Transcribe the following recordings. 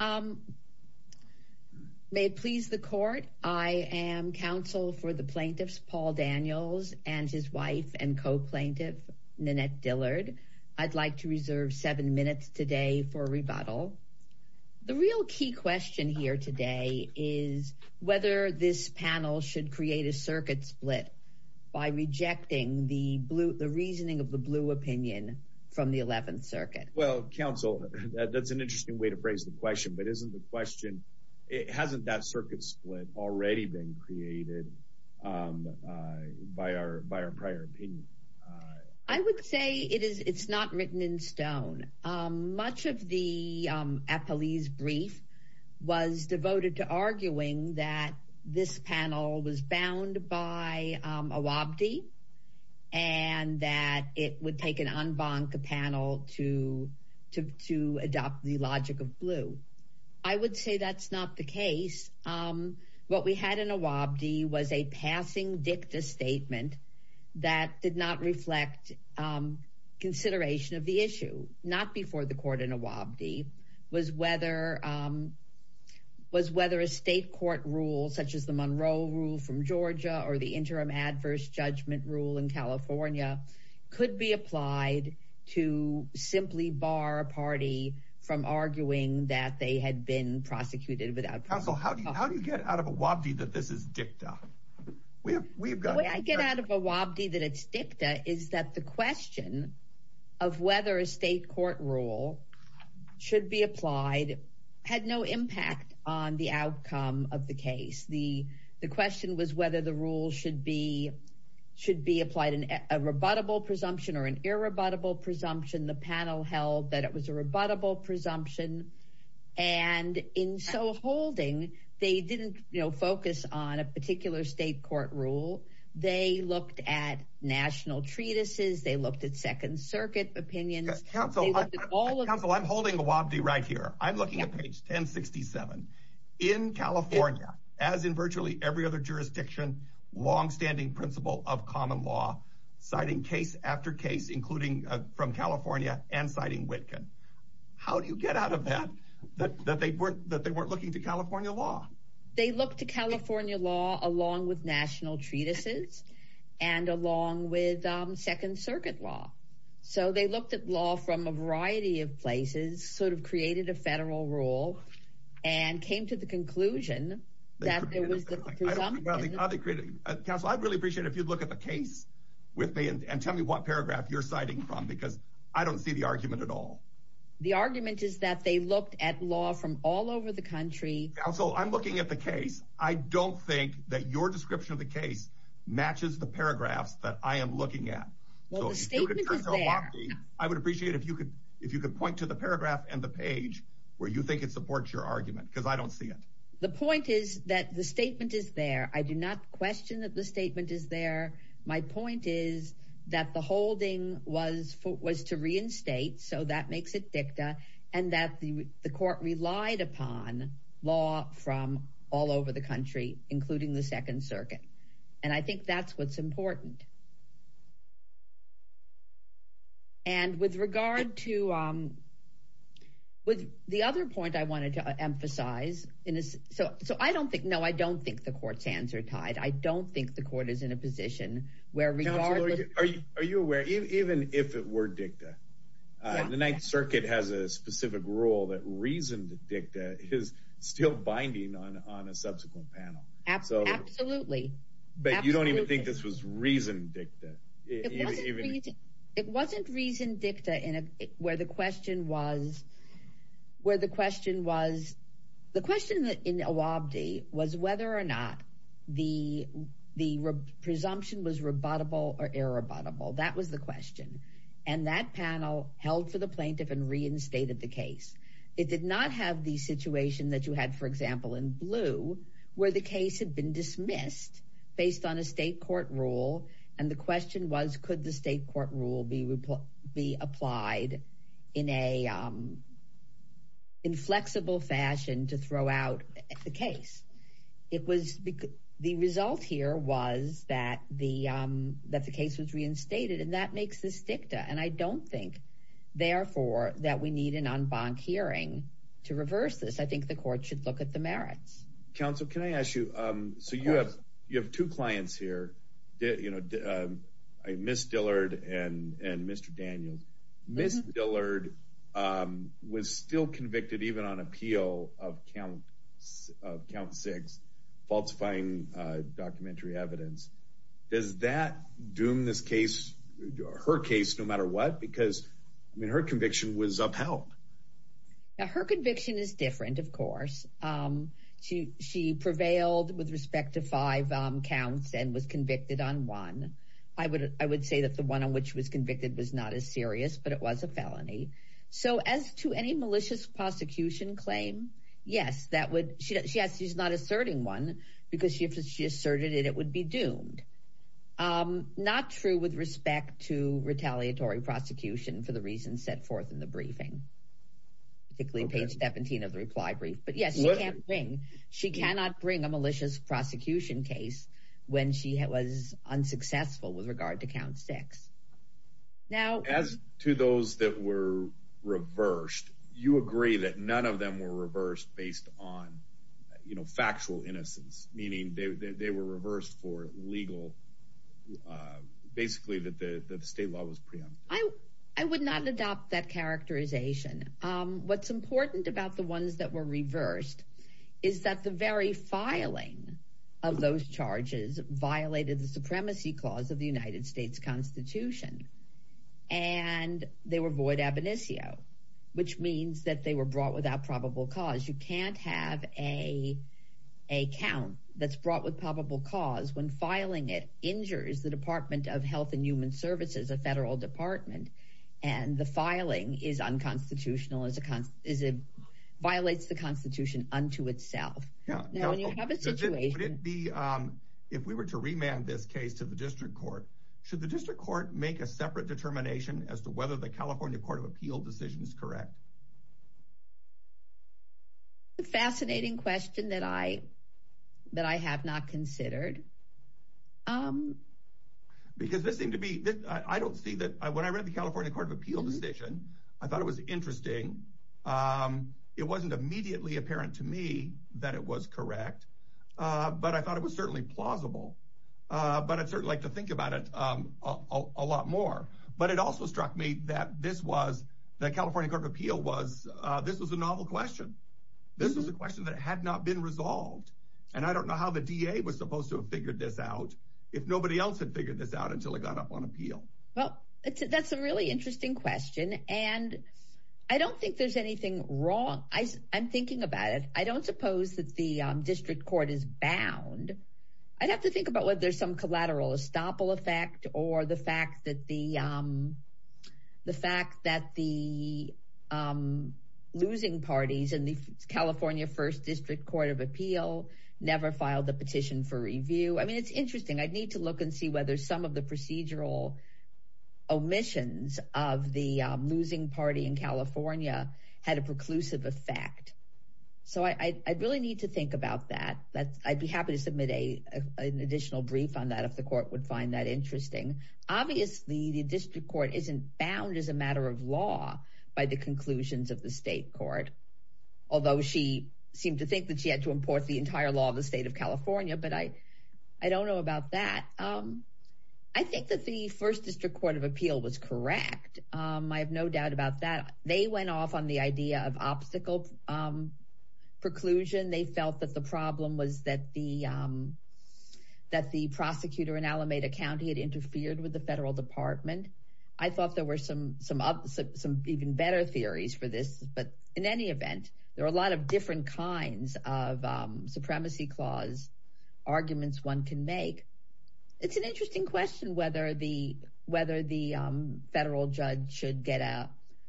um may it please the court I am counsel for the plaintiffs Paul Daniels and his wife and co-plaintiff Nanette Dillard I'd like to reserve seven minutes today for a rebuttal the real key question here today is whether this panel should create a circuit split by rejecting the blue the reasoning of the blue opinion from the 11th Circuit well counsel that's an interesting way to phrase the question but isn't the question it hasn't that circuit split already been created by our by our prior opinion I would say it is it's not written in stone much of the a police brief was devoted to arguing that this panel was to to adopt the logic of blue I would say that's not the case what we had in a Wabdi was a passing dicta statement that did not reflect consideration of the issue not before the court in a Wabdi was whether was whether a state court rule such as the Monroe rule from Georgia or the interim adverse judgment in California could be applied to simply bar a party from arguing that they had been prosecuted without counsel how do you how do you get out of a Wabdi that this is dicta we've got I get out of a Wabdi that it's dicta is that the question of whether a state court rule should be applied had no impact on the be applied in a rebuttable presumption or an irrebuttable presumption the panel held that it was a rebuttable presumption and in so holding they didn't you know focus on a particular state court rule they looked at national treatises they looked at Second Circuit opinions counsel I'm holding the Wabdi right here I'm looking at page 1067 in California as in virtually every other jurisdiction long-standing principle of common law citing case after case including from California and citing Wittgen how do you get out of that that that they weren't that they weren't looking to California law they looked to California law along with national treatises and along with Second Circuit law so they looked at law from a variety of places sort of created a federal rule and came to the conclusion that there was a really appreciate if you look at the case with me and tell me what paragraph you're citing from because I don't see the argument at all the argument is that they looked at law from all over the country so I'm looking at the case I don't think that your description of the case matches the paragraphs that I am looking at I would appreciate if you could if you could point to the paragraph and the page where you think it supports your argument because I don't see it the point is that the statement is there I do not question that the statement is there my point is that the holding was for was to reinstate so that makes it dicta and that the court relied upon law from all over the country including the Second Circuit and I think that's what's important and with regard to with the other point I wanted to emphasize in this so so I don't think no I don't think the court's hands are tied I don't think the court is in a position where we are are you aware even if it were dicta the Ninth Circuit has a specific rule that reason dicta is still binding on on a subsequent panel absolutely but you don't even think this was reason dicta it wasn't reason dicta in a where the question was where the question was the question that in a Wabdi was whether or not the the presumption was rebuttable or irrebuttable that was the question and that panel held for the plaintiff and reinstated the case it did not have the situation that you had for example in blue where the case had been dismissed based on a state court rule and the question was could the state rule be applied in a inflexible fashion to throw out the case it was the result here was that the that the case was reinstated and that makes this dicta and I don't think therefore that we need an en banc hearing to reverse this I think the court should look at the merits counsel can I ask you so you have you miss Dillard and Mr. Daniels miss Dillard was still convicted even on appeal of count six falsifying documentary evidence does that doom this case her case no matter what because her conviction was upheld her conviction is different of course she she prevailed with respect to five counts and was say that the one on which was convicted was not as serious but it was a felony so as to any malicious prosecution claim yes that would she has she's not asserting one because she if she asserted it it would be doomed not true with respect to retaliatory prosecution for the reasons set forth in the briefing particularly page 17 of the reply brief but yes she can't bring she cannot bring a malicious prosecution case when she had was unsuccessful with regard to count six now as to those that were reversed you agree that none of them were reversed based on you know factual innocence meaning they were reversed for legal basically that the state law was preempted I would not adopt that characterization what's important about the ones that were reversed is that the very filing of those charges violated the Supremacy Clause of the United States Constitution and they were void ab initio which means that they were brought without probable cause you can't have a a count that's brought with probable cause when filing it injures the Department of Health and Human Services a federal department and the filing is unconstitutional as a constant is it violates the Constitution unto itself if we were to remand this case to the district court should the district court make a separate determination as to whether the California Court of Appeal decision is correct a fascinating question that I that I have not considered because this seemed to be I don't see that I when I read the California Court of Appeal decision I thought it was interesting it wasn't immediately apparent to me that it was correct but I thought it was certainly plausible but I'd certainly like to think about it a lot more but it also struck me that this was the California Court of Appeal was this was a novel question this is a question that had not been resolved and I don't know how the DA was supposed to have figured this out if nobody else had figured this out until it got up on appeal well that's a really interesting question and I don't think there's anything wrong I'm thinking about it I don't suppose that the district court is bound I'd have to think about whether there's some collateral estoppel effect or the fact that the the fact that the losing parties and the California First District Court of Appeal never filed the petition for review I mean it's interesting I'd need to look and see whether some of the had a preclusive effect so I'd really need to think about that that I'd be happy to submit a an additional brief on that if the court would find that interesting obviously the district court isn't bound as a matter of law by the conclusions of the state court although she seemed to think that she had to import the entire law of the state of California but I I don't know about that I think that the First District Court of Appeal was correct I have no doubt about that they went off on the idea of obstacle preclusion they felt that the problem was that the that the prosecutor in Alameda County had interfered with the federal department I thought there were some some up some even better theories for this but in any event there are a lot of different kinds of supremacy clause arguments one can make it's an interesting question whether the federal judge should get a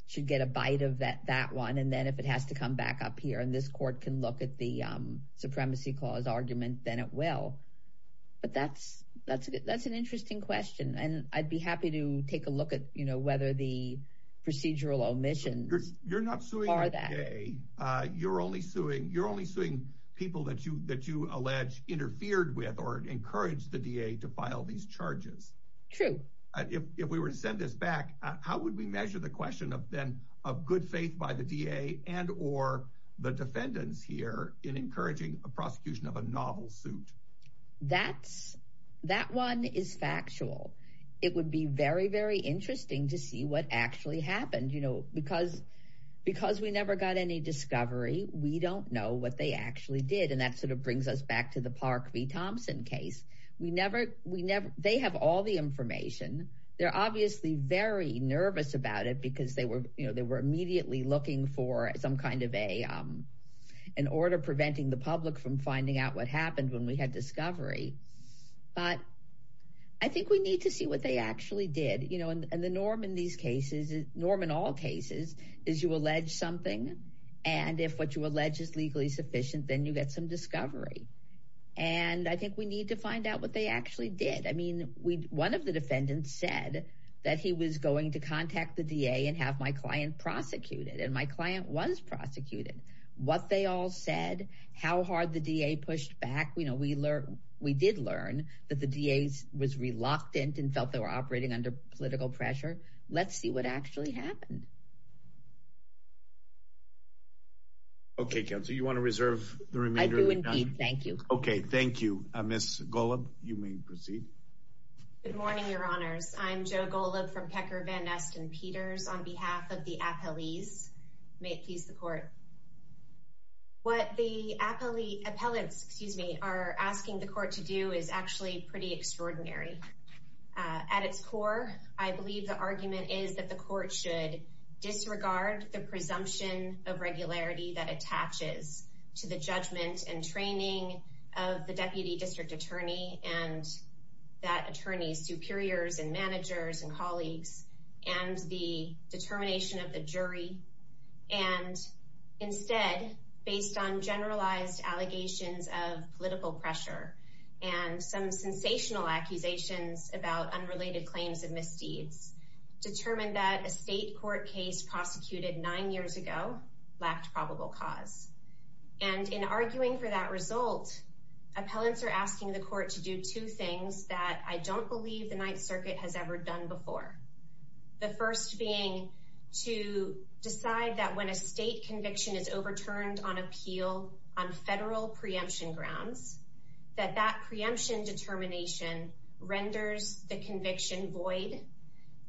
should get a bite of that that one and then if it has to come back up here and this court can look at the supremacy clause argument then it will but that's that's that's an interesting question and I'd be happy to take a look at you know whether the procedural omissions you're not so are that a you're only suing you're only suing people that you that you allege interfered with or encouraged the DA to file these charges true if we were to send this back how would we measure the question of them of good faith by the DA and or the defendants here in encouraging a prosecution of a novel suit that's that one is factual it would be very very interesting to see what actually happened you know because because we never got any discovery we don't know what they actually did and that sort of brings us back to the Park v. Thompson case we never we never they have all the information they're obviously very nervous about it because they were you know they were immediately looking for some kind of a an order preventing the public from finding out what happened when we had discovery but I think we need to see what they actually did you know and the norm in these cases norm in all cases is you allege is legally sufficient then you get some discovery and I think we need to find out what they actually did I mean we one of the defendants said that he was going to contact the DA and have my client prosecuted and my client was prosecuted what they all said how hard the DA pushed back we know we learned we did learn that the DA's was reluctant and felt they were operating under political pressure let's see what actually happened okay so you want to reserve the remainder thank you okay thank you miss Golub you may proceed good morning your honors I'm Joe Golub from Pecker Van Ness and Peters on behalf of the appellees may it please the court what the appellee appellants excuse me are asking the court to do is actually pretty extraordinary at its core I believe the argument is that the court should disregard the presumption of regularity that attaches to the judgment and training of the deputy district attorney and that attorneys superiors and managers and colleagues and the determination of the jury and instead based on generalized allegations of political pressure and some sensational accusations about unrelated claims of misdeeds determined that a state court case prosecuted nine years ago lacked probable cause and in arguing for that result appellants are asking the court to do two things that I don't believe the Ninth Circuit has ever done before the first being to decide that when a state conviction is overturned on appeal on federal preemption grounds that that renders the conviction void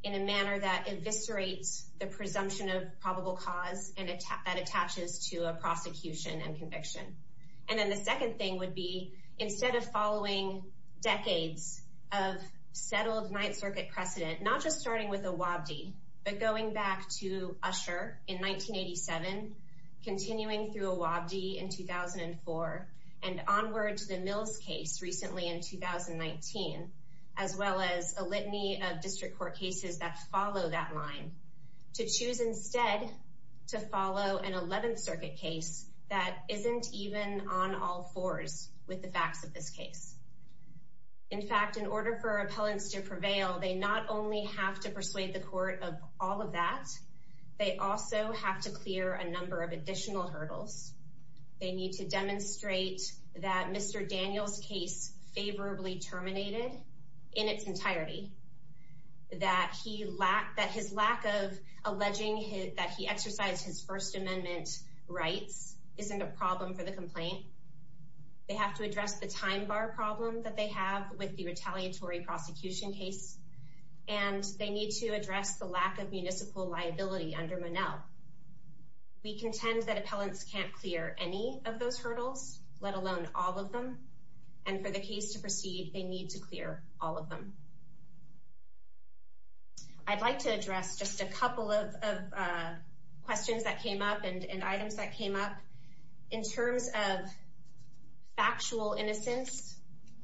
in a manner that eviscerates the presumption of probable cause and attack that attaches to a prosecution and conviction and then the second thing would be instead of following decades of settled Ninth Circuit precedent not just starting with a Wabdi but going back to Usher in 1987 continuing through a Wabdi in 2004 and onward to the Mills case recently in 2019 as well as a litany of district court cases that follow that line to choose instead to follow an 11th Circuit case that isn't even on all fours with the facts of this case in fact in order for appellants to prevail they not only have to persuade the court of all of that they also have to clear a number of in its entirety that he lacked that his lack of alleging that he exercised his First Amendment rights isn't a problem for the complaint they have to address the time bar problem that they have with the retaliatory prosecution case and they need to address the lack of municipal liability under Manel we contend that appellants can't clear any of those hurdles let alone all of them and for the case to proceed they need to clear all of them I'd like to address just a couple of questions that came up and items that came up in terms of factual innocence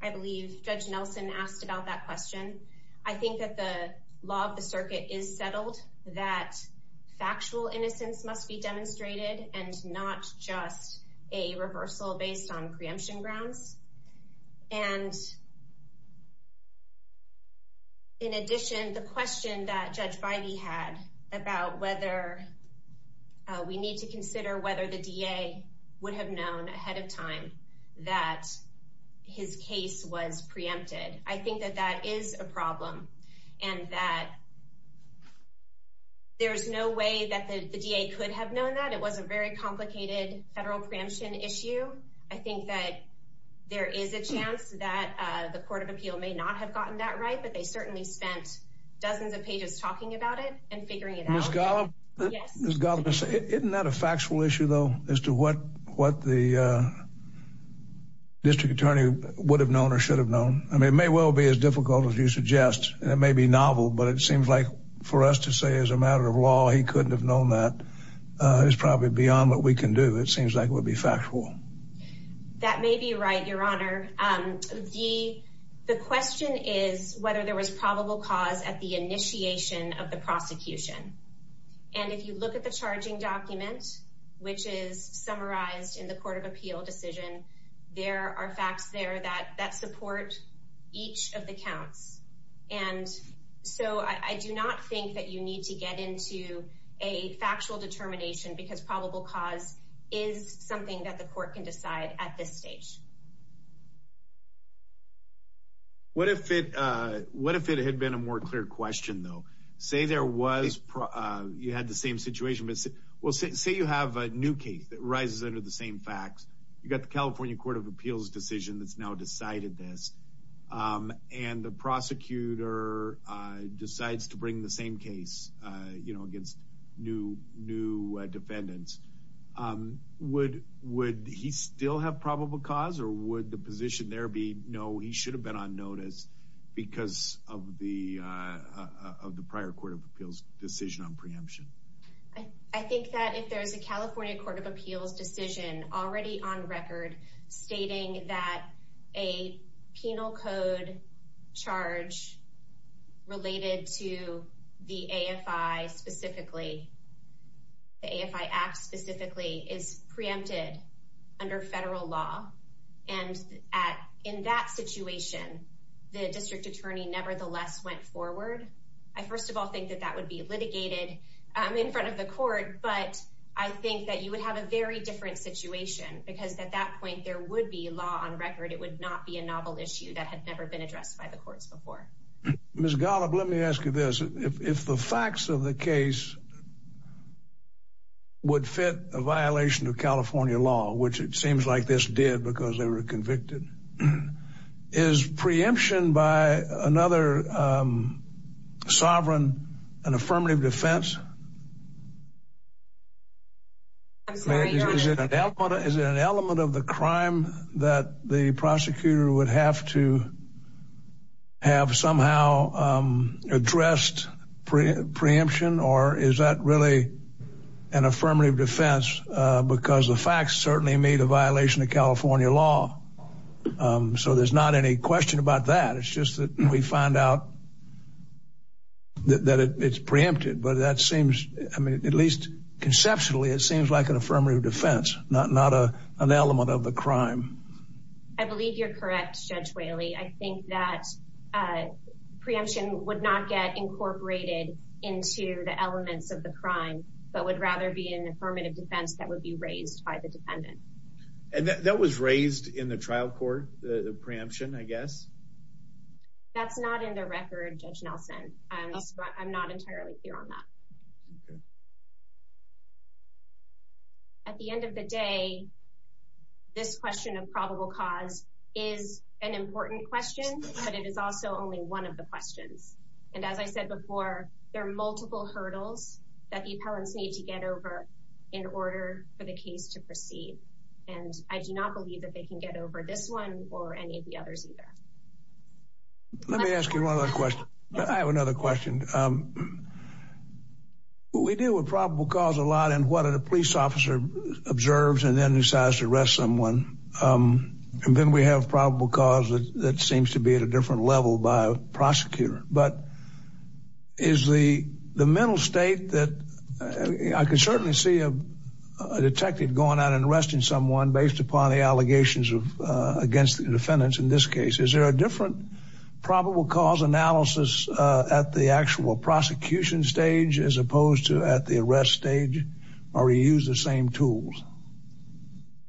I believe Judge Nelson asked about that question I think that the law of the circuit is settled that factual innocence must be demonstrated and not just a reversal based on preemption grounds and in addition the question that Judge Bidey had about whether we need to consider whether the DA would have known ahead of time that his case was preempted I think that that is a problem and that there's no way that the DA could have known that it was a very complicated federal preemption issue I think that there is a chance that the Court of Appeal may not have gotten that right but they certainly spent dozens of pages talking about it and figuring it out. Ms. Gollum, isn't that a factual issue though as to what what the district attorney would have known or should have known I mean it may well be as difficult as you suggest it may be novel but it seems like for us to say as a matter of law he couldn't have known that it's probably beyond what we can do it seems like would be factual. That may be right your honor the the question is whether there was probable cause at the initiation of the prosecution and if you look at the charging document which is summarized in the Court of Appeal decision there are facts there that that support each of the counts and so I do not think that you need to get into a factual determination because probable cause is something that the court can decide at this stage. What if it what if it had been a more clear question though say there was you had the same situation but well say you have a new case that rises under the same facts you got the California Court of Appeals decision that's now decided this and the prosecutor decides to bring the same case you know against new new defendants would would he still have probable cause or would the position there be no he should have been on notice because of the of the prior Court of Appeals decision on preemption. I think that if there's a California Court of Appeals decision already on record stating that a penal code charge related to the AFI specifically the AFI Act specifically is preempted under federal law and at in that situation the district attorney nevertheless went forward I first of all think that that would be litigated in front of the court but I think that you would have a very different situation because at that point there would be law on record it would not be a novel issue that had never been addressed by the courts before. Ms. Golub let me ask you this if the facts of the case would fit a violation of California law which it seems like this did because they were convicted is preemption by another sovereign an affirmative defense is it an element of the crime that the prosecutor would have to have somehow addressed preemption or is that really an affirmative defense because the facts certainly made a violation of California law so there's not any question about that it's just that we find out that it's preempted but that seems I mean at least conceptually it seems like an affirmative defense not an element of the crime. I believe you're correct Judge Whaley I think that preemption would not get incorporated into the elements of the crime but would rather be an affirmative defense that would be raised by the defendant. And that was raised in the trial court the preemption I guess? That's not in the this question of probable cause is an important question but it is also only one of the questions and as I said before there are multiple hurdles that the appellants need to get over in order for the case to proceed and I do not believe that they can get over this one or any of the others either. Let me ask you one other question I have another question we deal with probable cause a man decides to arrest someone and then we have probable cause that seems to be at a different level by a prosecutor but is the the mental state that I can certainly see a detective going out and arresting someone based upon the allegations of against the defendants in this case is there a different probable cause analysis at the actual prosecution stage as opposed to at the arrest stage or you use the same tools?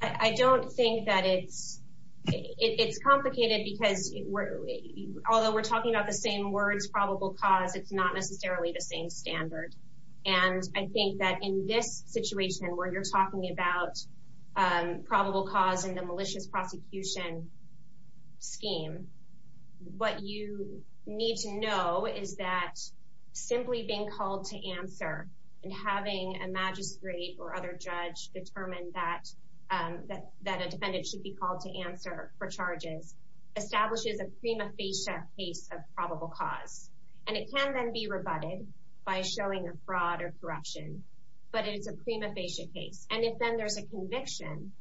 I don't think that it's it's complicated because although we're talking about the same words probable cause it's not necessarily the same standard and I think that in this situation where you're talking about probable cause in the malicious prosecution scheme what you need to know is that simply being called to answer and having a magistrate or other judge determine that that a defendant should be called to answer for charges establishes a prima facie case of probable cause and it can then be rebutted by showing a fraud or corruption but it's a prima facie case and if then there's a conviction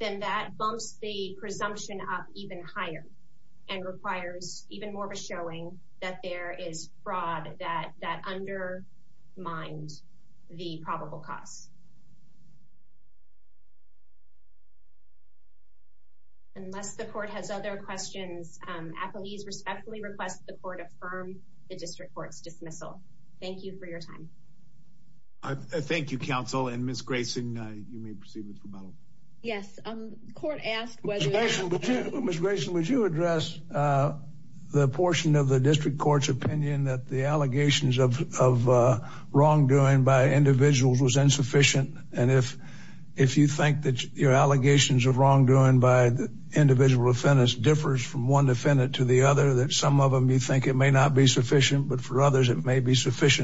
then that bumps the presumption up even higher and requires even more of a showing that there is fraud that undermined the probable cause. Unless the court has other questions, appellees respectfully request the court affirm the district courts dismissal. Thank you for your time. Thank you counsel and Ms. Grayson you may proceed with rebuttal. Yes, the court asked whether... Ms. Grayson would you address the portion of the district courts opinion that the allegations of wrongdoing by individuals was insufficient and if if you think that your allegations of wrongdoing by the individual defendants differs from one defendant to the other that some of them you think it may not be sufficient but for others it may be together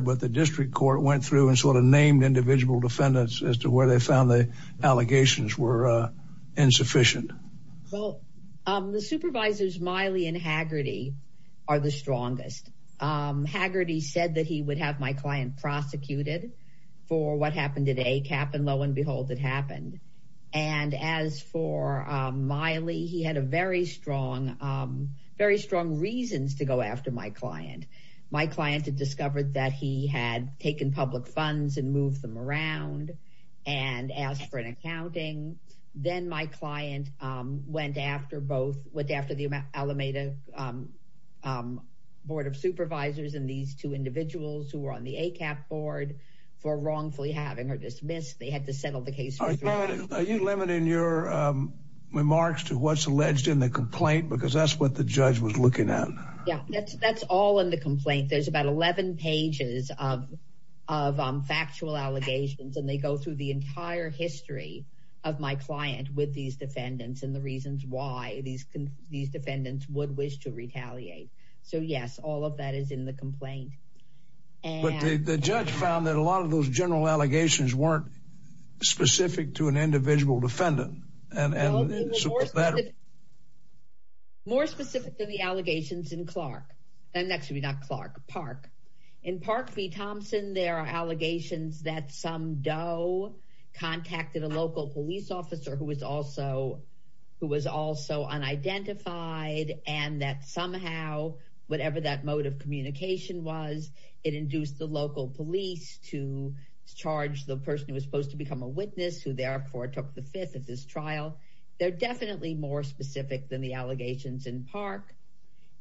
but the district court went through and sort of named individual defendants as to where they found the allegations were insufficient. Well the supervisors Miley and Haggerty are the strongest. Haggerty said that he would have my client prosecuted for what happened at ACAP and lo and behold it happened and as for Miley he had a very strong very strong reasons to go after my client. My client had discovered that he had taken public funds and moved them around and asked for an accounting. Then my client went after both went after the Alameda Board of Supervisors and these two individuals who were on the ACAP board for wrongfully having her dismissed. They had to settle the case. Are you limiting your remarks to what's alleged in the complaint because that's what the judge was looking at. Yeah that's that's all in the complaint there's about 11 pages of factual allegations and they go through the entire history of my client with these defendants and the reasons why these can these defendants would wish to retaliate. So yes all of that is in the complaint. But the judge found that a lot of those general allegations weren't specific to an individual defendant. More specific to the allegations in Clark and actually not Clark Park. In Park v. Thompson there are allegations that some DOE contacted a local police officer who was also who was also unidentified and that somehow whatever that mode of communication was it induced the local police to charge the person who was supposed to become a witness who therefore took the fifth of this trial. They're definitely more specific than the allegations in Park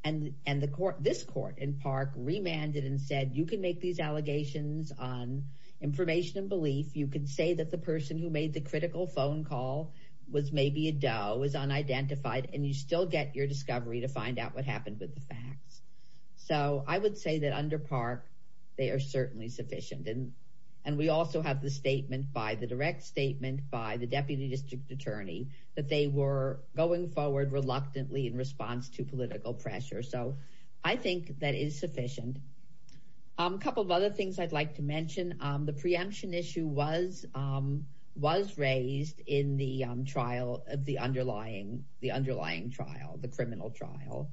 and and the court this court in Park remanded and said you can make these allegations on information and belief. You could say that the person who made the critical phone call was maybe a DOE was unidentified and you still get your discovery to find out what happened with the facts. So I would say that under Park they are certainly sufficient and and we also have the statement by the direct statement by the Deputy District Attorney that they were going forward reluctantly in response to political pressure. So I think that is sufficient. A couple of other things I'd like to mention the preemption issue was was raised in the trial of the underlying the underlying trial the criminal trial.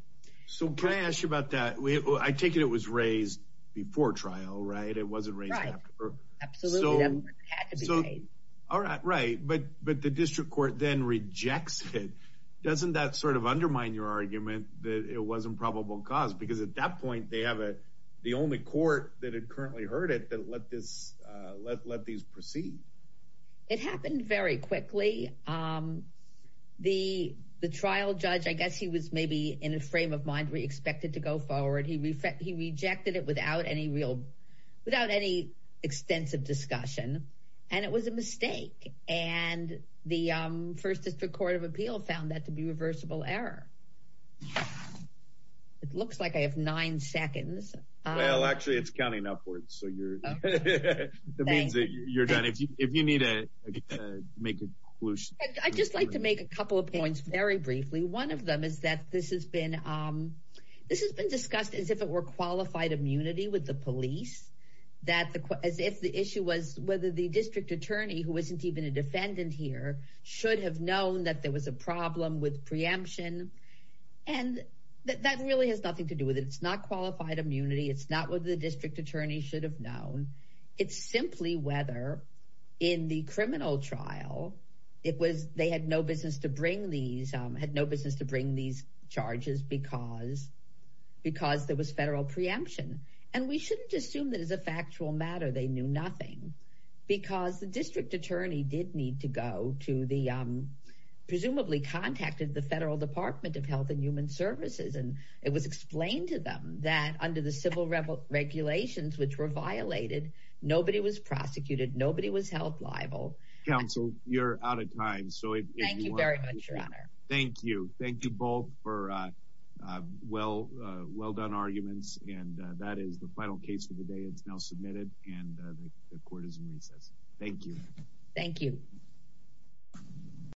So can I ask you about that? I take it it was raised before trial right? It wasn't raised after. Absolutely it had to be raised. All right right but but the district court then rejects it. Doesn't that sort of undermine your argument that it wasn't probable cause because at that point they have a the only court that had currently heard it that let this let these proceed. It happened very quickly. The the trial judge I guess he was maybe in a frame of mind we expected to go forward. He rejected it without any real without any extensive discussion and it was a mistake and the First District Court of Appeal found that to be reversible error. It looks like I have nine seconds. Well actually it's counting upwards so you're done if you need to make a conclusion. I'd just like to make a couple of points very briefly. One of them is that this has been this has been discussed as if it were qualified immunity with the police. That the as if the issue was whether the district attorney who isn't even a defendant here should have known that there was a problem with preemption and that really has nothing to do with it. It's not qualified immunity. It's not what the district attorney should have known. It's simply whether in the criminal trial it was they had no business to bring these had no business to bring these charges because because there was federal preemption and we shouldn't assume that is a factual matter. They knew nothing because the district attorney did need to go to the presumably contacted the Federal Department of Health and Human Services and it was explained to them that under the civil revel regulations which were violated nobody was prosecuted nobody was held liable. Counsel you're out of time so thank you thank you both for well well done arguments and that is the final case for the day it's now submitted and the court is in recess. Thank you. Thank you.